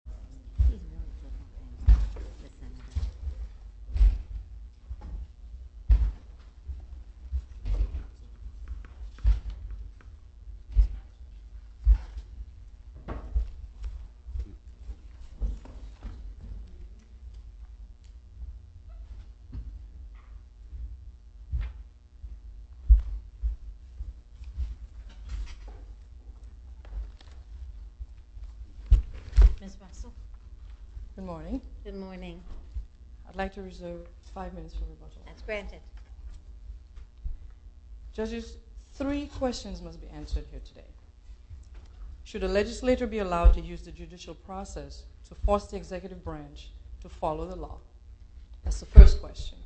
v. Dejongh Good morning. Good morning. I'd like to reserve five minutes for rebuttal. That's granted. Judges, three questions must be answered here today. Should a legislator be allowed to use the judicial process to force the executive branch to follow the law? That's the first question.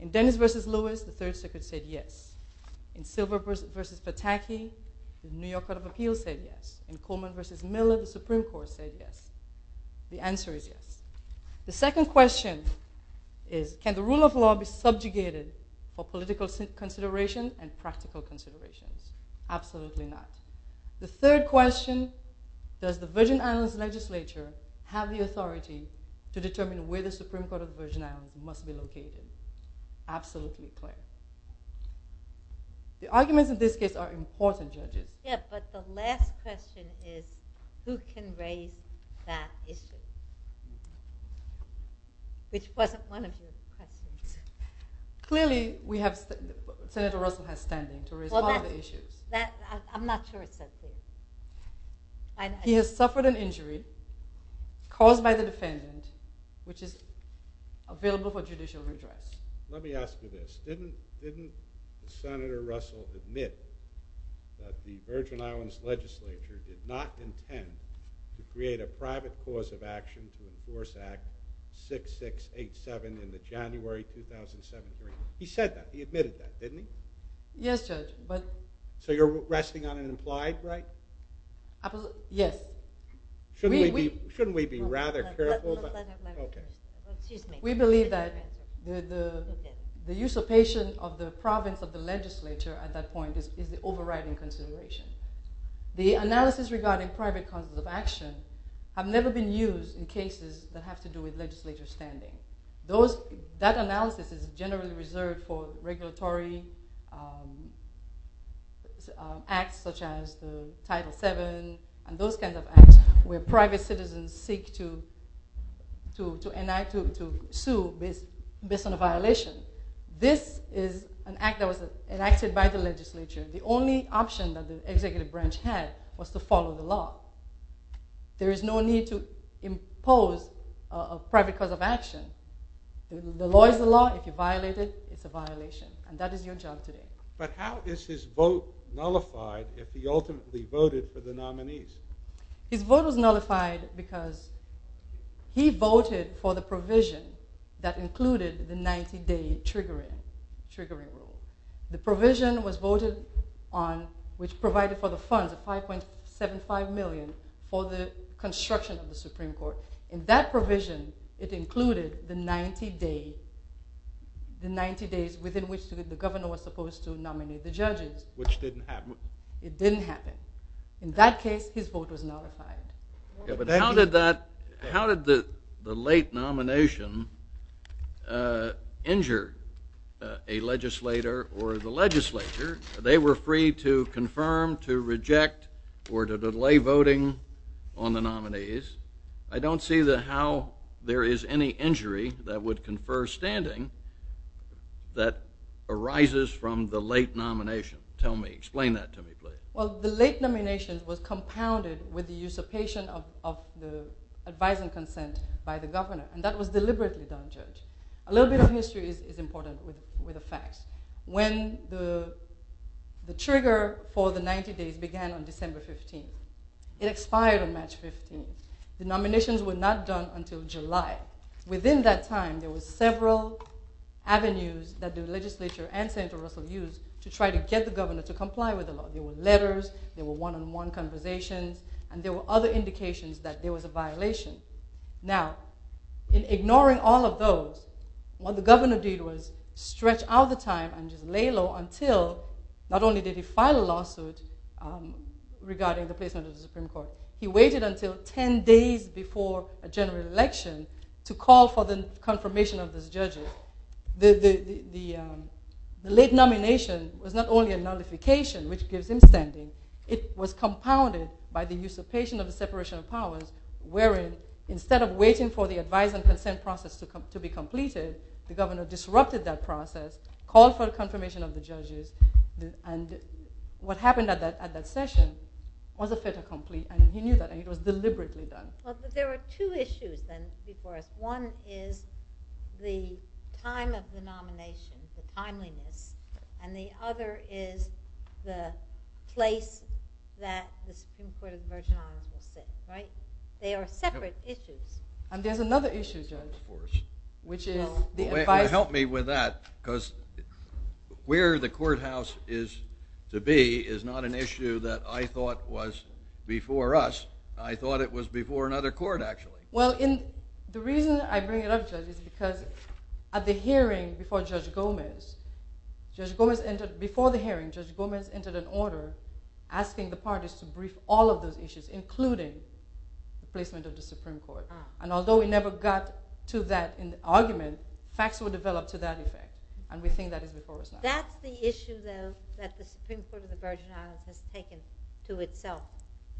In Dennis v. Lewis, the Third Circuit said yes. In Silver v. Pataki, the New York Court of Appeals said yes. In Coleman v. Miller, the Supreme Court said yes. The answer is yes. The second question is can the rule of law be subjugated for political consideration and practical consideration? Absolutely not. The third question, does the Virgin Islands legislature have the authority to determine where the Supreme Court of the Virgin Islands must be located? Absolutely plain. The arguments in this case are important, judges. Yeah, but the last question is who can raise that issue? Which wasn't one of your questions. Clearly, Senator Russell has standing to raise all the issues. I'm not sure it's that serious. He has suffered an injury caused by the defendant, which is available for judicial redress. Let me ask you this. Didn't Senator Russell admit that the Virgin Islands legislature did not intend to create a private cause of action to enforce Act 6687 in the January 2007 agreement? He said that. He admitted that, didn't he? Yes, Judge. So you're resting on an implied right? Yes. Shouldn't we be rather careful? We believe that the usurpation of the province of the legislature at that point is the overriding consideration. The analysis regarding private causes of action have never been used in cases that have to do with legislature standing. That analysis is generally reserved for regulatory acts such as Title VII and those kinds of acts where private citizens seek to sue based on a violation. This is an act that was enacted by the legislature. The only option that the executive branch had was to follow the law. There is no need to impose a private cause of action. The law is the law. If you violate it, it's a violation. And that is your job today. But how is his vote nullified if he ultimately voted for the nominees? His vote was nullified because he voted for the provision that included the 90-day triggering rule. The provision was voted on which provided for the funds of $5.75 million for the construction of the Supreme Court. In that provision, it included the 90 days within which the governor was supposed to nominate the judges. Which didn't happen. It didn't happen. In that case, his vote was nullified. But how did the late nomination injure a legislator or the legislature? They were free to confirm, to reject, or to delay voting on the nominees. I don't see how there is any injury that would confer standing that arises from the late nomination. Tell me. Explain that to me, please. Well, the late nomination was compounded with the usurpation of the advising consent by the governor. And that was deliberately done, Judge. A little bit of history is important with the facts. When the trigger for the 90 days began on December 15th, it expired on March 15th. The nominations were not done until July. Within that time, there were several avenues that the legislature and Senator Russell used to try to get the governor to comply with the law. There were letters. There were one-on-one conversations. And there were other indications that there was a violation. Now, in ignoring all of those, what the governor did was stretch out the time and just lay low until, not only did he file a lawsuit regarding the placement of the Supreme Court, he waited until 10 days before a general election to call for the confirmation of those judges. The late nomination was not only a nullification, which gives him standing, it was compounded by the usurpation of the separation of powers, wherein, instead of waiting for the advising consent process to be completed, the governor disrupted that process, called for the confirmation of the judges, and what happened at that session was a fait accompli, and he knew that, and it was deliberately done. There were two issues, then, before us. One is the time of the nomination, the timeliness, and the other is the place that the Supreme Court of Virginia was sitting. They are separate issues. And there's another issue, Judge. Help me with that, because where the courthouse is to be is not an issue that I thought was before us. I thought it was before another court, actually. Well, the reason I bring it up, Judge, is because at the hearing before Judge Gomez, before the hearing, Judge Gomez entered an order asking the parties to brief all of those issues, including the placement of the Supreme Court. And although we never got to that argument, facts were developed to that effect, and we think that is before us now. That's the issue, though, that the Supreme Court of the Virgin Islands has taken to itself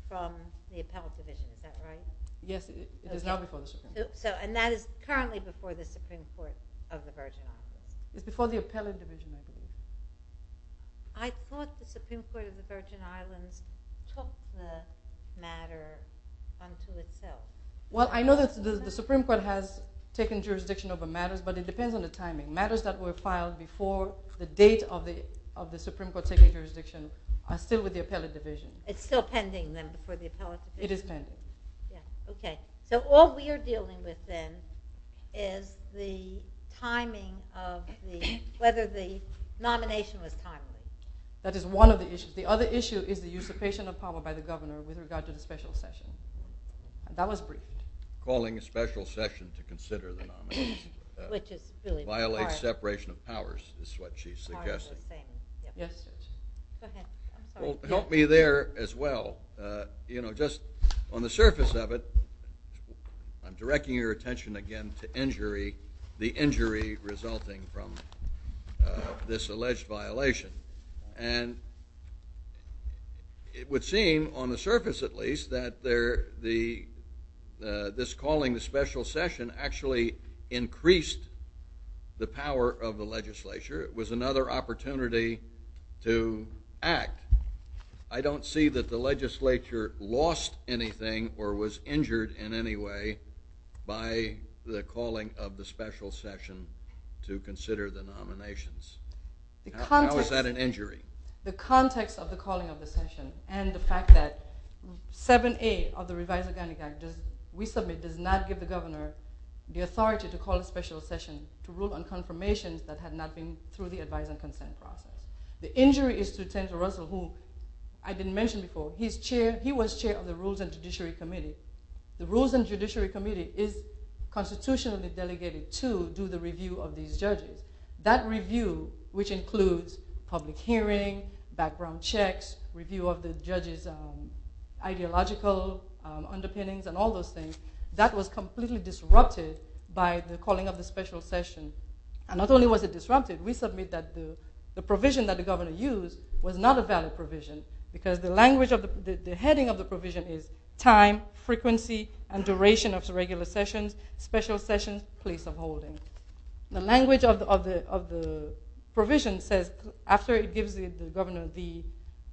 from the appellate division, is that right? Yes, it is now before the Supreme Court. And that is currently before the Supreme Court of the Virgin Islands. It's before the appellate division, I believe. I thought the Supreme Court of the Virgin Islands took the matter unto itself. I know that the Supreme Court has taken jurisdiction over matters, but it depends on the timing. Matters that were filed before the date of the Supreme Court taking jurisdiction are still with the appellate division. It's still pending, then, before the appellate division? It is pending. Okay. So all we are dealing with, then, is the timing of whether the nomination was timely. That is one of the issues. The other issue is the usurpation of power by the governor with regard to the special session. That was brief. Calling a special session to consider the nomination. Violates separation of powers, is what she's suggesting. Yes. Help me there, as well. You know, just on the surface of it, I'm directing your attention again to injury, the injury resulting from this alleged violation. And it would seem, on the surface at least, that this calling the special session actually increased the power of the legislature. It was another opportunity to act. I don't see that the legislature lost anything or was injured in any way by the calling of the special session to consider the nominations. How is that an injury? The context of the calling of the session, and the fact that 7A of the revised Organic Act, we submit, does not give the governor the authority to call a special session to rule on confirmations that had not been through the advise and consent process. The injury is through Senator Russell, who I didn't mention before. He was chair of the Rules and Judiciary Committee. The Rules and Judiciary Committee is constitutionally delegated to do the review of these judges. That review, which includes public hearing, background checks, review of the judges' ideological underpinnings, and all those things, that was completely disrupted by the calling of the special session. And not only was it disrupted, we submit that the provision that the governor used was not a valid provision, because the heading of the provision is time, frequency, and duration of regular sessions, special sessions, place of holding. The language of the provision says, after it gives the governor the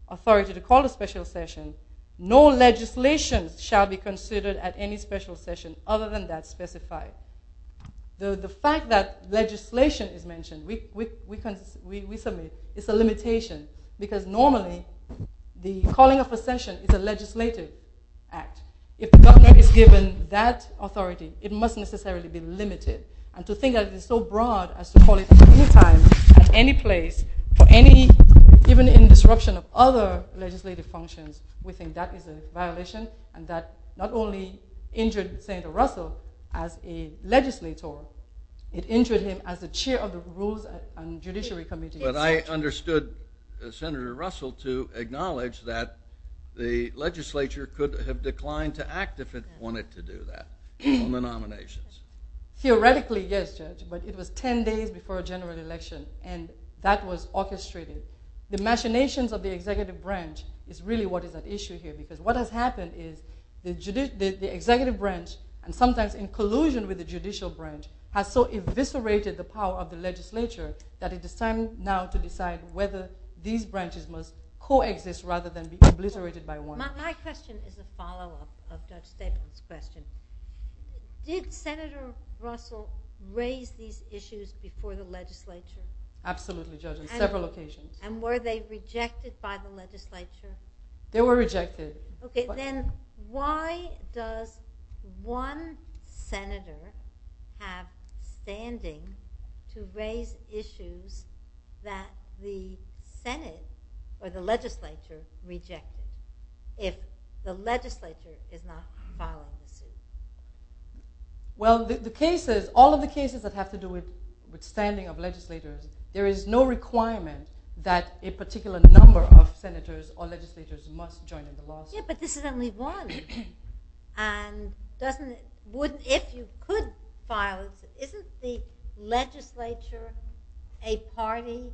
authority to call a special session, no legislation shall be considered at any special session other than that specified. The fact that legislation is mentioned, we submit, is a limitation, because normally the calling of a session is a legislative act. If the governor is given that authority, it must necessarily be limited. And to think that it is so broad as to call it at any time, at any place, even in disruption of other legislative functions, we think that is a violation. And that not only injured Senator Russell as a legislator, it injured him as the chair of the Rules and Judiciary Committee. But I understood Senator Russell to acknowledge that the legislature could have declined to act if it wanted to do that on the nominations. Theoretically, yes, Judge, but it was 10 days before a general election, and that was orchestrated. The machinations of the executive branch is really what is at issue here, because what has happened is the executive branch, and sometimes in collusion with the judicial branch, has so eviscerated the power of the legislature that it is time now to decide whether these branches must coexist rather than be obliterated by one. My question is a follow-up of Judge Stapleton's question. Did Senator Russell raise these issues before the legislature? Absolutely, Judge, on several occasions. And were they rejected by the legislature? They were rejected. Okay, then why does one senator have standing to raise issues that the Senate or the legislature rejected if the legislature is not following the suit? Well, all of the cases that have to do with standing of legislators, there is no requirement that a particular number of senators or legislators must join in the lawsuit. Yeah, but this is only one. If you could file a suit, isn't the legislature a party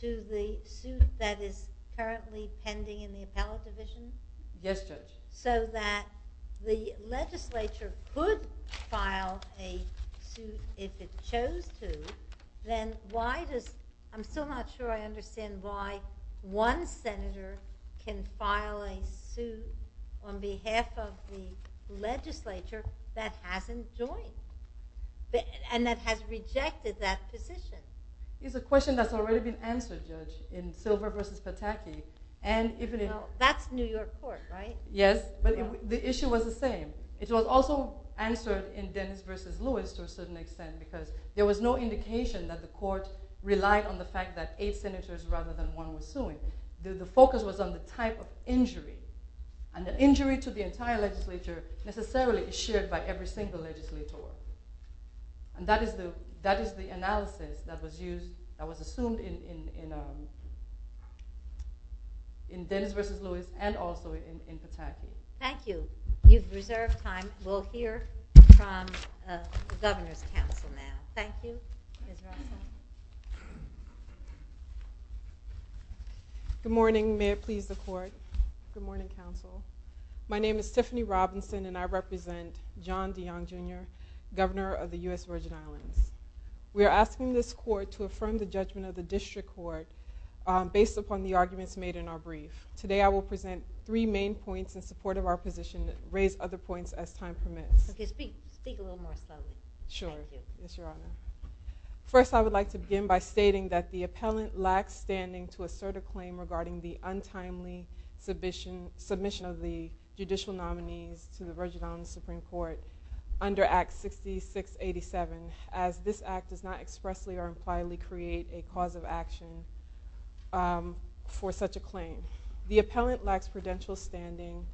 to the suit that is currently pending in the appellate division? Yes, Judge. So that the legislature could file a suit if it chose to, then why does, I'm still not sure I understand why one senator can file a suit on behalf of the legislature that hasn't joined, and that has rejected that position. It's a question that's already been answered, Judge, in Silver v. Pataki. Well, that's New York court, right? Yes, but the issue was the same. It was also answered in Dennis v. Lewis to a certain extent because there was no indication that the court relied on the fact that eight senators rather than one were suing. The focus was on the type of injury, and the injury to the entire legislature necessarily is shared by every single legislator. And that is the analysis that was assumed in Dennis v. Lewis and also in Pataki. Thank you. You've reserved time. We'll hear from the governor's counsel now. Thank you. Good morning. May it please the court. Good morning, counsel. My name is Tiffany Robinson, and I represent John Dion, Jr., governor of the U.S. Virgin Islands. We are asking this court to affirm the judgment of the district court based upon the arguments made in our brief. Today I will present three main points in support of our position and raise other points as time permits. Okay, speak a little more slowly. Sure. Yes, Your Honor. First, I would like to begin by stating that the appellant lacks standing to assert a claim regarding the untimely submission of the judicial nominees to the Virgin Islands Supreme Court under Act 6687 as this act does not expressly or impliedly create a cause of action for such a claim. The appellant lacks prudential standing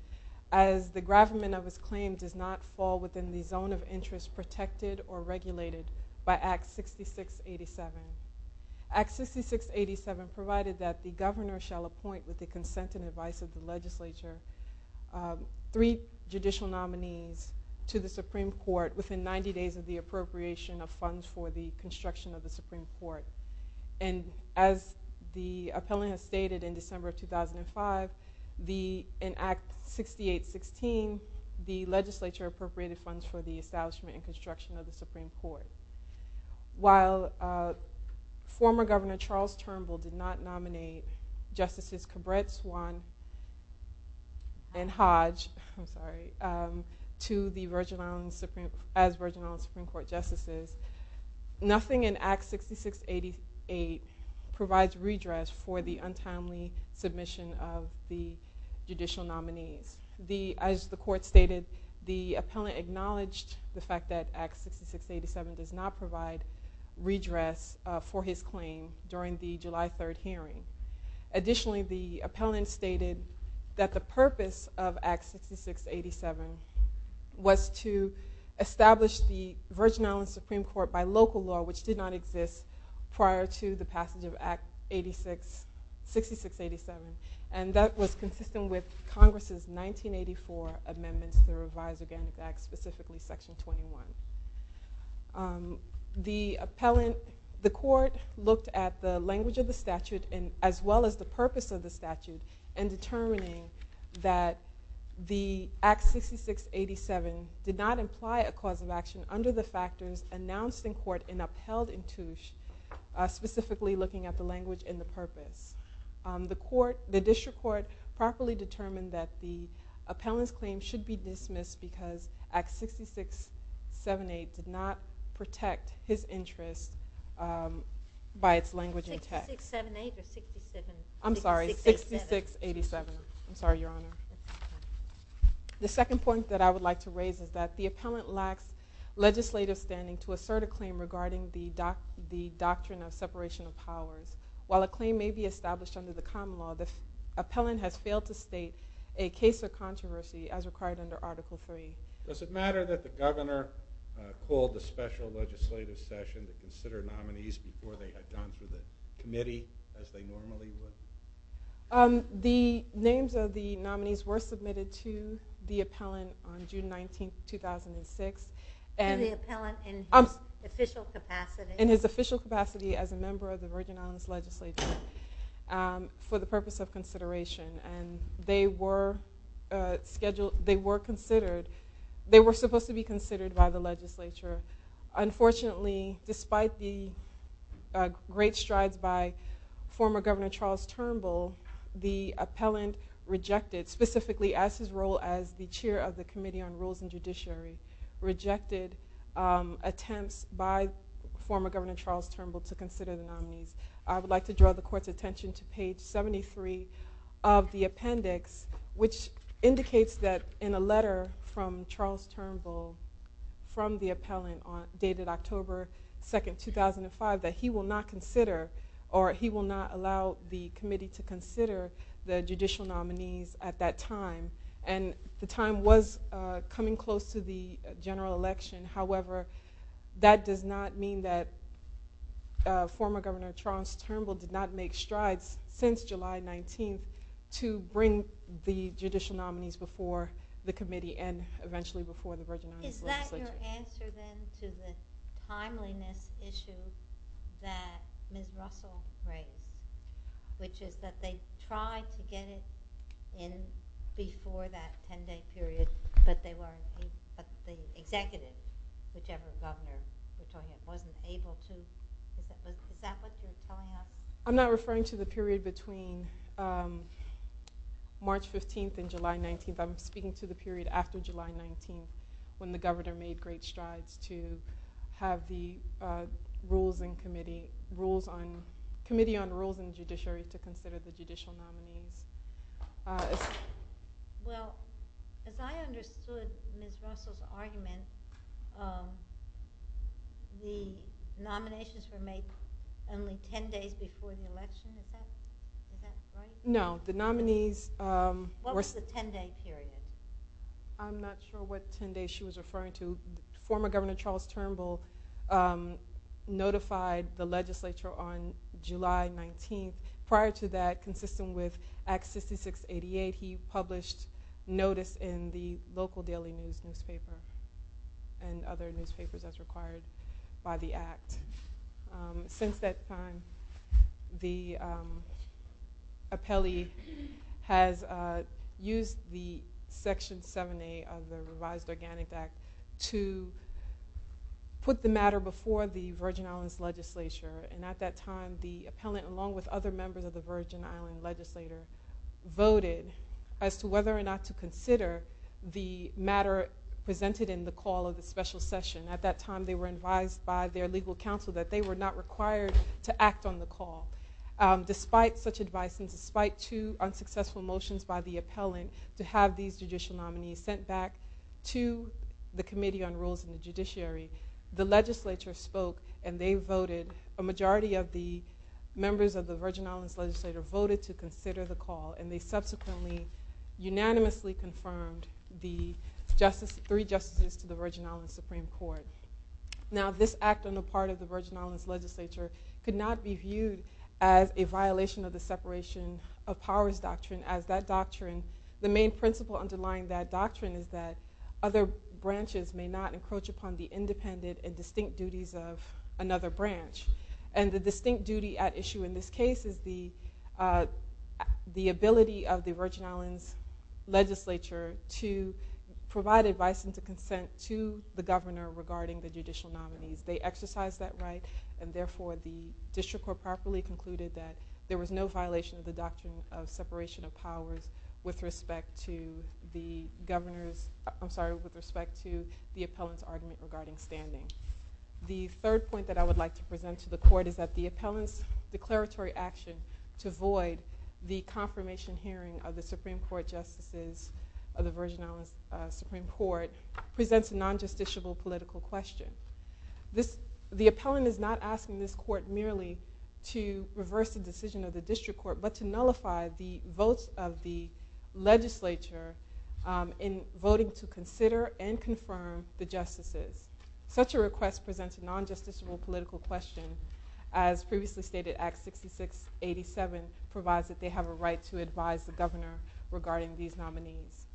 as the gravamen of his claim does not fall within the zone of interest protected or regulated by Act 6687. Act 6687 provided that the governor shall appoint, with the consent and advice of the legislature, three judicial nominees to the Supreme Court within 90 days of the appropriation of funds for the construction of the Supreme Court. As the appellant has stated, in December 2005, in Act 6816, the legislature appropriated funds for the establishment and construction of the Supreme Court. While former Governor Charles Turnbull did not nominate Justices Cabret, Swan, and Hodge as Virgin Islands Supreme Court Justices, nothing in Act 6688 provides redress for the untimely submission of the judicial nominees. As the court stated, the appellant acknowledged the fact that Act 6687 does not provide redress for his claim during the July 3rd hearing. Additionally, the appellant stated that the purpose of Act 6687 was to establish the Virgin Islands Supreme Court by local law, which did not exist prior to the passage of Act 6687, and that was consistent with Congress's 1984 amendments to the Revised Against Act, specifically Section 21. The court looked at the language of the statute, as well as the purpose of the statute, in determining that Act 6687 did not imply a cause of action under the factors announced in court and upheld in Touche, specifically looking at the language and the purpose. The district court properly determined that the appellant's claim should be dismissed because Act 6678 did not protect his interest by its language and text. I'm sorry, 6687. I'm sorry, Your Honor. The second point that I would like to raise is that the appellant lacks legislative standing to assert a claim regarding the doctrine of separation of powers. While a claim may be established under the common law, the appellant has failed to state a case of controversy as required under Article III. Does it matter that the governor called the special legislative session to consider nominees before they had gone to the committee as they normally would? The names of the nominees were submitted to the appellant on June 19, 2006. To the appellant in his official capacity? To the appellant in his official capacity as a member of the Virgin Islands Legislature for the purpose of consideration. They were supposed to be considered by the legislature. Unfortunately, despite the great strides by former Governor Charles Turnbull, the appellant rejected, specifically as his role as the chair of the Committee on Rules and Judiciary, rejected attempts by former Governor Charles Turnbull to consider the nominees. I would like to draw the Court's attention to page 73 of the appendix, which indicates that in a letter from Charles Turnbull from the appellant dated October 2, 2005, that he will not consider or he will not allow the committee to consider the judicial nominees at that time. And the time was coming close to the general election. However, that does not mean that former Governor Charles Turnbull did not make strides since July 19 to bring the judicial nominees before the committee and eventually before the Virgin Islands Legislature. Is that your answer then to the timeliness issue that Ms. Russell raised? Which is that they tried to get it in before that 10-day period, but the executive, whichever governor, wasn't able to. Is that what you're trying to say? I'm not referring to the period between March 15 and July 19. I'm speaking to the period after July 19 when the governor made great strides to have the Committee on Rules and Judiciary to consider the judicial nominees. Well, as I understood Ms. Russell's argument, the nominations were made only 10 days before the election. Is that right? No, the nominees... What was the 10-day period? I'm not sure what 10 days she was referring to. Former Governor Charles Turnbull notified the legislature on July 19. Prior to that, consistent with Act 6688, he published notice in the local daily newspaper and other newspapers as required by the Act. Since that time, the appellee has used Section 78 of the Revised Organic Act to put the matter before the Virgin Islands Legislature. At that time, the appellant, along with other members of the Virgin Islands Legislature, voted as to whether or not to consider the matter presented in the call of the special session. At that time, they were advised by their legal counsel that they were not required to act on the call. Despite such advice and despite two unsuccessful motions by the appellant to have these judicial nominees sent back to the Committee on Rules and Judiciary, the legislature spoke and they voted. A majority of the members of the Virgin Islands Legislature voted to consider the call and they subsequently unanimously confirmed the three justices to the Virgin Islands Supreme Court. Now, this act on the part of the Virgin Islands Legislature could not be viewed as a violation of the separation of powers doctrine. As that doctrine, the main principle underlying that doctrine is that other branches may not encroach upon the independent and distinct duties of another branch. And the distinct duty at issue in this case is the ability of the Virgin Islands Legislature to provide advice and to consent to the governor regarding the judicial nominees. They exercised that right and therefore the district court properly concluded that there was no violation of the doctrine of separation of powers with respect to the appellant's argument regarding standing. The third point that I would like to present to the court is that the appellant's declaratory action to void the confirmation hearing of the Supreme Court justices of the Virgin Islands Supreme Court presents a non-justiciable political question. The appellant is not asking this court merely to reverse the decision of the district court but to nullify the votes of the legislature in voting to consider and confirm the justices. Such a request presents a non-justiciable political question as previously stated Act 6687 provides that they have a right to advise the governor regarding these nominees.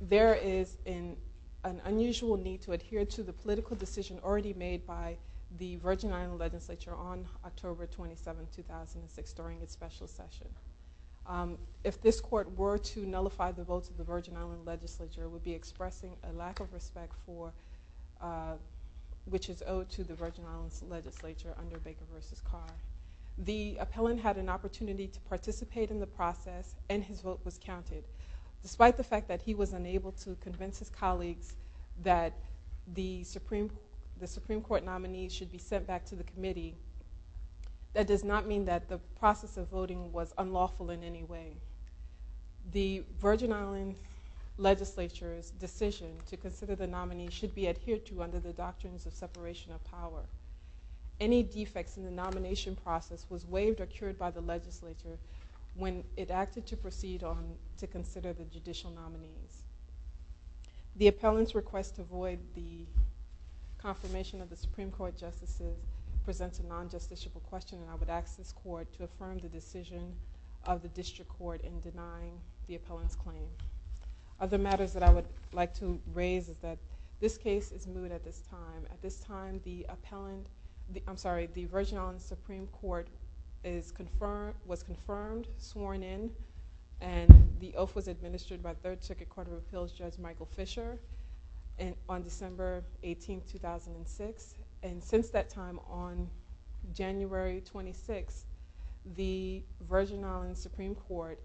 There is an unusual need to adhere to the political decision already made by the Virgin Islands Legislature on October 27, 2006 during its special session. If this court were to nullify the votes of the Virgin Islands Legislature it would be expressing a lack of respect which is owed to the Virgin Islands Legislature under Baker v. Carr. The appellant had an opportunity to participate in the process and his vote was counted. Despite the fact that he was unable to convince his colleagues that the Supreme Court nominees should be sent back to the committee that does not mean that the process of voting was unlawful in any way. The Virgin Islands Legislature's decision to consider the nominees should be adhered to under the doctrines of separation of power. Any defects in the nomination process was waived or cured by the legislature when it acted to proceed on to consider the judicial nominees. The appellant's request to void the confirmation of the Supreme Court justices presents a non-justiciable question and I would ask this court to affirm the decision of the district court in denying the appellant's claim. Other matters that I would like to raise is that this case is moot at this time. At this time the Virgin Islands Supreme Court was confirmed, sworn in, and the oath was administered by 3rd Circuit Court of Appeals Judge Michael Fisher on December 18, 2006. And since that time on January 26, the Virgin Islands Supreme Court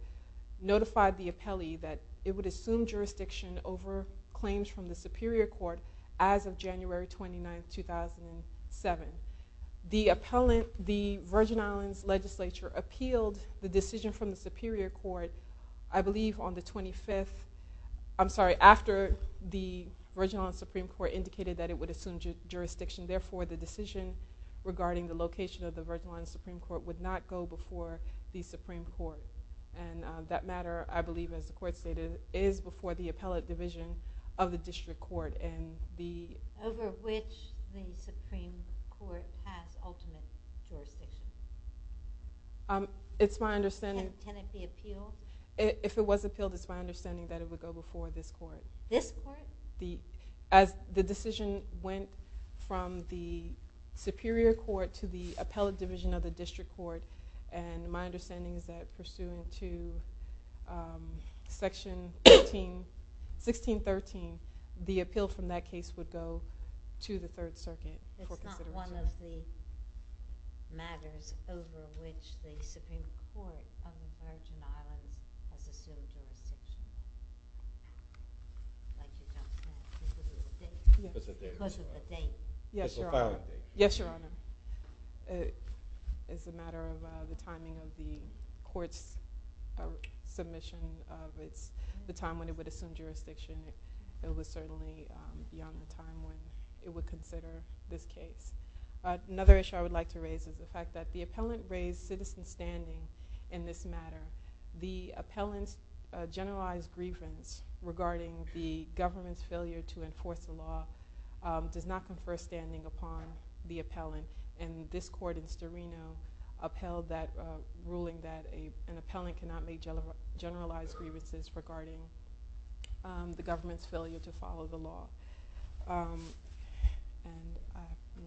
notified the appellee that it would assume jurisdiction over claims from the Superior Court as of January 29, 2007. The Virgin Islands Legislature appealed the decision from the Superior Court after the Virgin Islands Supreme Court indicated that it would assume jurisdiction. Therefore, the decision regarding the location of the Virgin Islands Supreme Court would not go before the Supreme Court. And that matter, I believe as the court stated, is before the appellate division of the district court. Over which the Supreme Court has ultimate jurisdiction? It's my understanding... Can it be appealed? If it was appealed, it's my understanding that it would go before this court. This court? As the decision went from the Superior Court to the appellate division of the district court, and my understanding is that pursuant to Section 1613, the appeal from that case would go to the 3rd Circuit. It's not one of the matters over which the Supreme Court on the Virgin Islands has assumed jurisdiction? Because of the date? Yes, Your Honor. Yes, Your Honor. It's a matter of the timing of the court's submission of the time when it would assume jurisdiction. It was certainly beyond the time when it would consider this case. Another issue I would like to raise is the fact that the appellant raised citizen standing in this matter. The appellant's generalized grievance regarding the government's failure to enforce the law does not confer standing upon the appellant. And this court in Storino upheld that ruling that an appellant cannot make generalized grievances regarding the government's failure to follow the law. And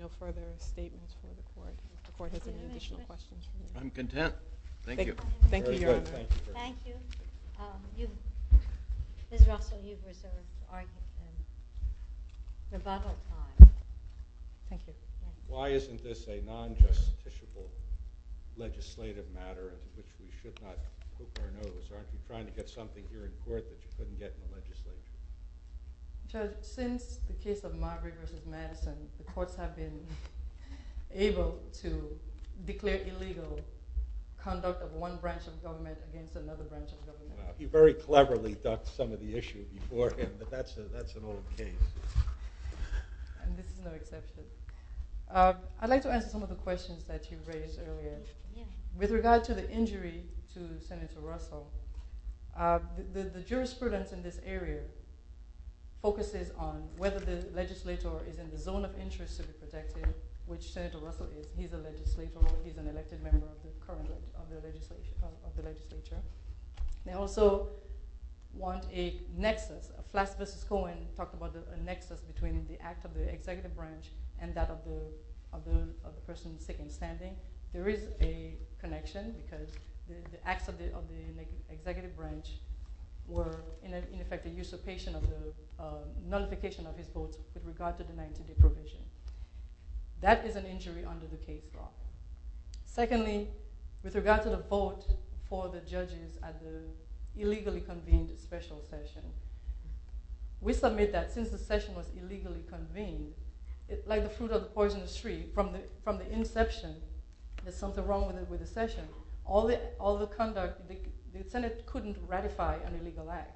no further statements from the court. If the court has any additional questions. I'm content. Thank you. Thank you, Your Honor. Thank you. Ms. Russell, you've reserved arguments and rebuttal time. Thank you. Why isn't this a non-justiciable legislative matter? We should not take our notice. Aren't you trying to get something here in court that you couldn't get in the legislature? Judge, since the case of Margaret v. Madison, the courts have been able to declare illegal conduct of one branch of government against another branch of government. He very cleverly ducked some of the issue beforehand, but that's an old case. And this is no exception. I'd like to answer some of the questions that you raised earlier. With regard to the injury to Senator Russell, the jurisprudence in this area focuses on whether the legislator is in the zone of interest to be protected, which Senator Russell is. He's a legislator. He's an elected member of the legislature. They also want a nexus. Flats v. Cohen talked about a nexus between the act of the executive branch and that of the person in second standing. There is a connection because the acts of the executive branch were in effect a usurpation of the notification of his vote with regard to the 19-day provision. That is an injury under the case law. Secondly, with regard to the vote for the judges at the illegally convened special session, we submit that since the session was illegally convened, like the fruit of the poisonous tree, from the inception, there's something wrong with the session. All the conduct, the Senate couldn't ratify an illegal act.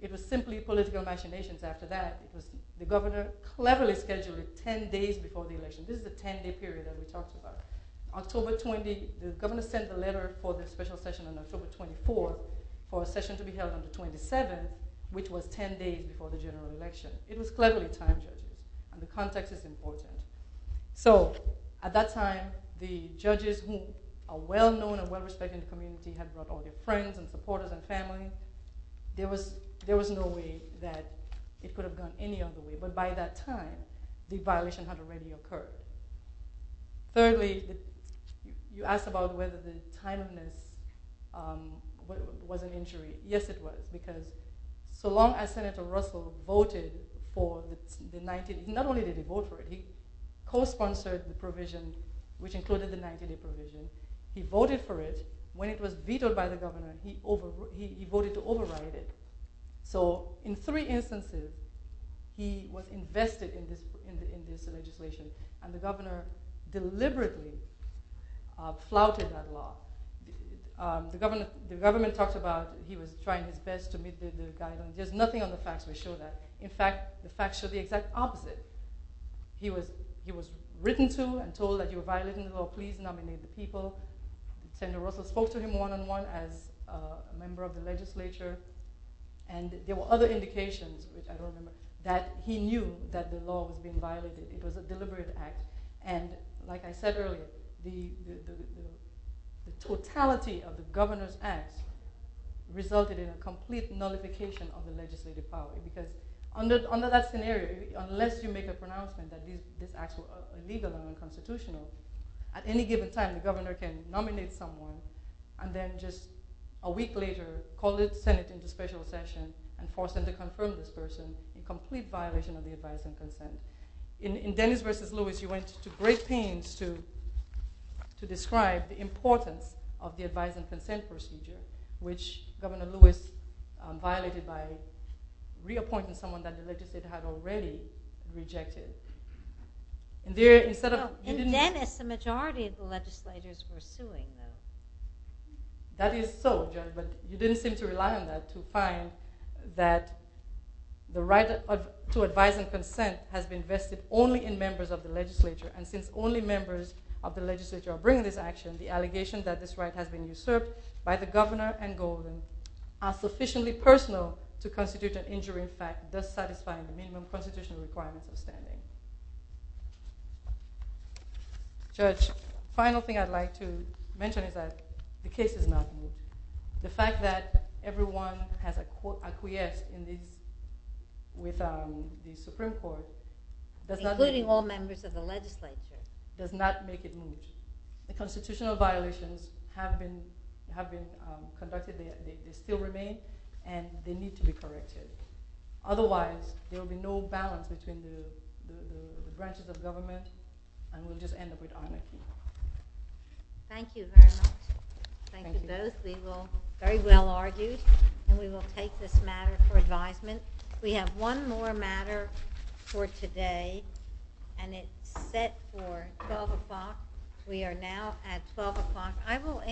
It was simply political machinations after that. The governor cleverly scheduled it 10 days before the election. This is the 10-day period that we talked about. The governor sent a letter for the special session on October 24 for a session to be held on the 27th, which was 10 days before the general election. It was cleverly timed. The context is important. At that time, the judges, who are well-known and well-respected in the community, had brought all their friends and supporters and family. There was no way that it could have gone any other way. By that time, the violation had already occurred. Thirdly, you asked about whether the timeliness was an injury. Yes, it was. Not only did Senator Russell vote for it, he co-sponsored the provision, which included the 90-day provision. He voted for it. When it was vetoed by the governor, he voted to override it. In three instances, he was invested in this legislation. The governor deliberately flouted that law. The government talked about how he was trying his best to meet the guidelines. There's nothing on the facts that show that. In fact, the facts show the exact opposite. He was written to and told that you're violating the law. Please nominate the people. Senator Russell spoke to him one-on-one as a member of the legislature. There were other indications that he knew that the law was being violated. It was a deliberate act. Like I said earlier, the totality of the governor's acts resulted in a complete nullification of the legislative power. Under that scenario, unless you make a pronouncement that these acts were illegal and unconstitutional, at any given time, the governor can nominate someone and then just a week later call the Senate into special session and force them to confirm this person, a complete violation of the advice and consent. In Dennis v. Lewis, you went to great pains to describe the importance of the advice and consent procedure, which Governor Lewis violated by reappointing someone that the legislature had already rejected. In Dennis, the majority of the legislators were suing him. That is so, but you didn't seem to rely on that to find that the right to advice and consent was invested only in members of the legislature, and since only members of the legislature are bringing this action, the allegations that this right has been usurped by the governor and Golden are sufficiently personal to constitute an injury in fact, thus satisfying the minimum constitutional requirements of standing. Judge, the final thing I'd like to mention is that the case is not new. The fact that everyone has acquiesced with the Supreme Court including all members of the legislature, does not make it new. The constitutional violations have been conducted, they still remain, and they need to be corrected. Otherwise, there will be no balance between the branches of government and we'll just end up with anarchy. Thank you very much. Thank you both. We were very well argued, and we will take this matter for advisement. We have one more matter for today, and it's set for 12 o'clock. We are now at 12 o'clock.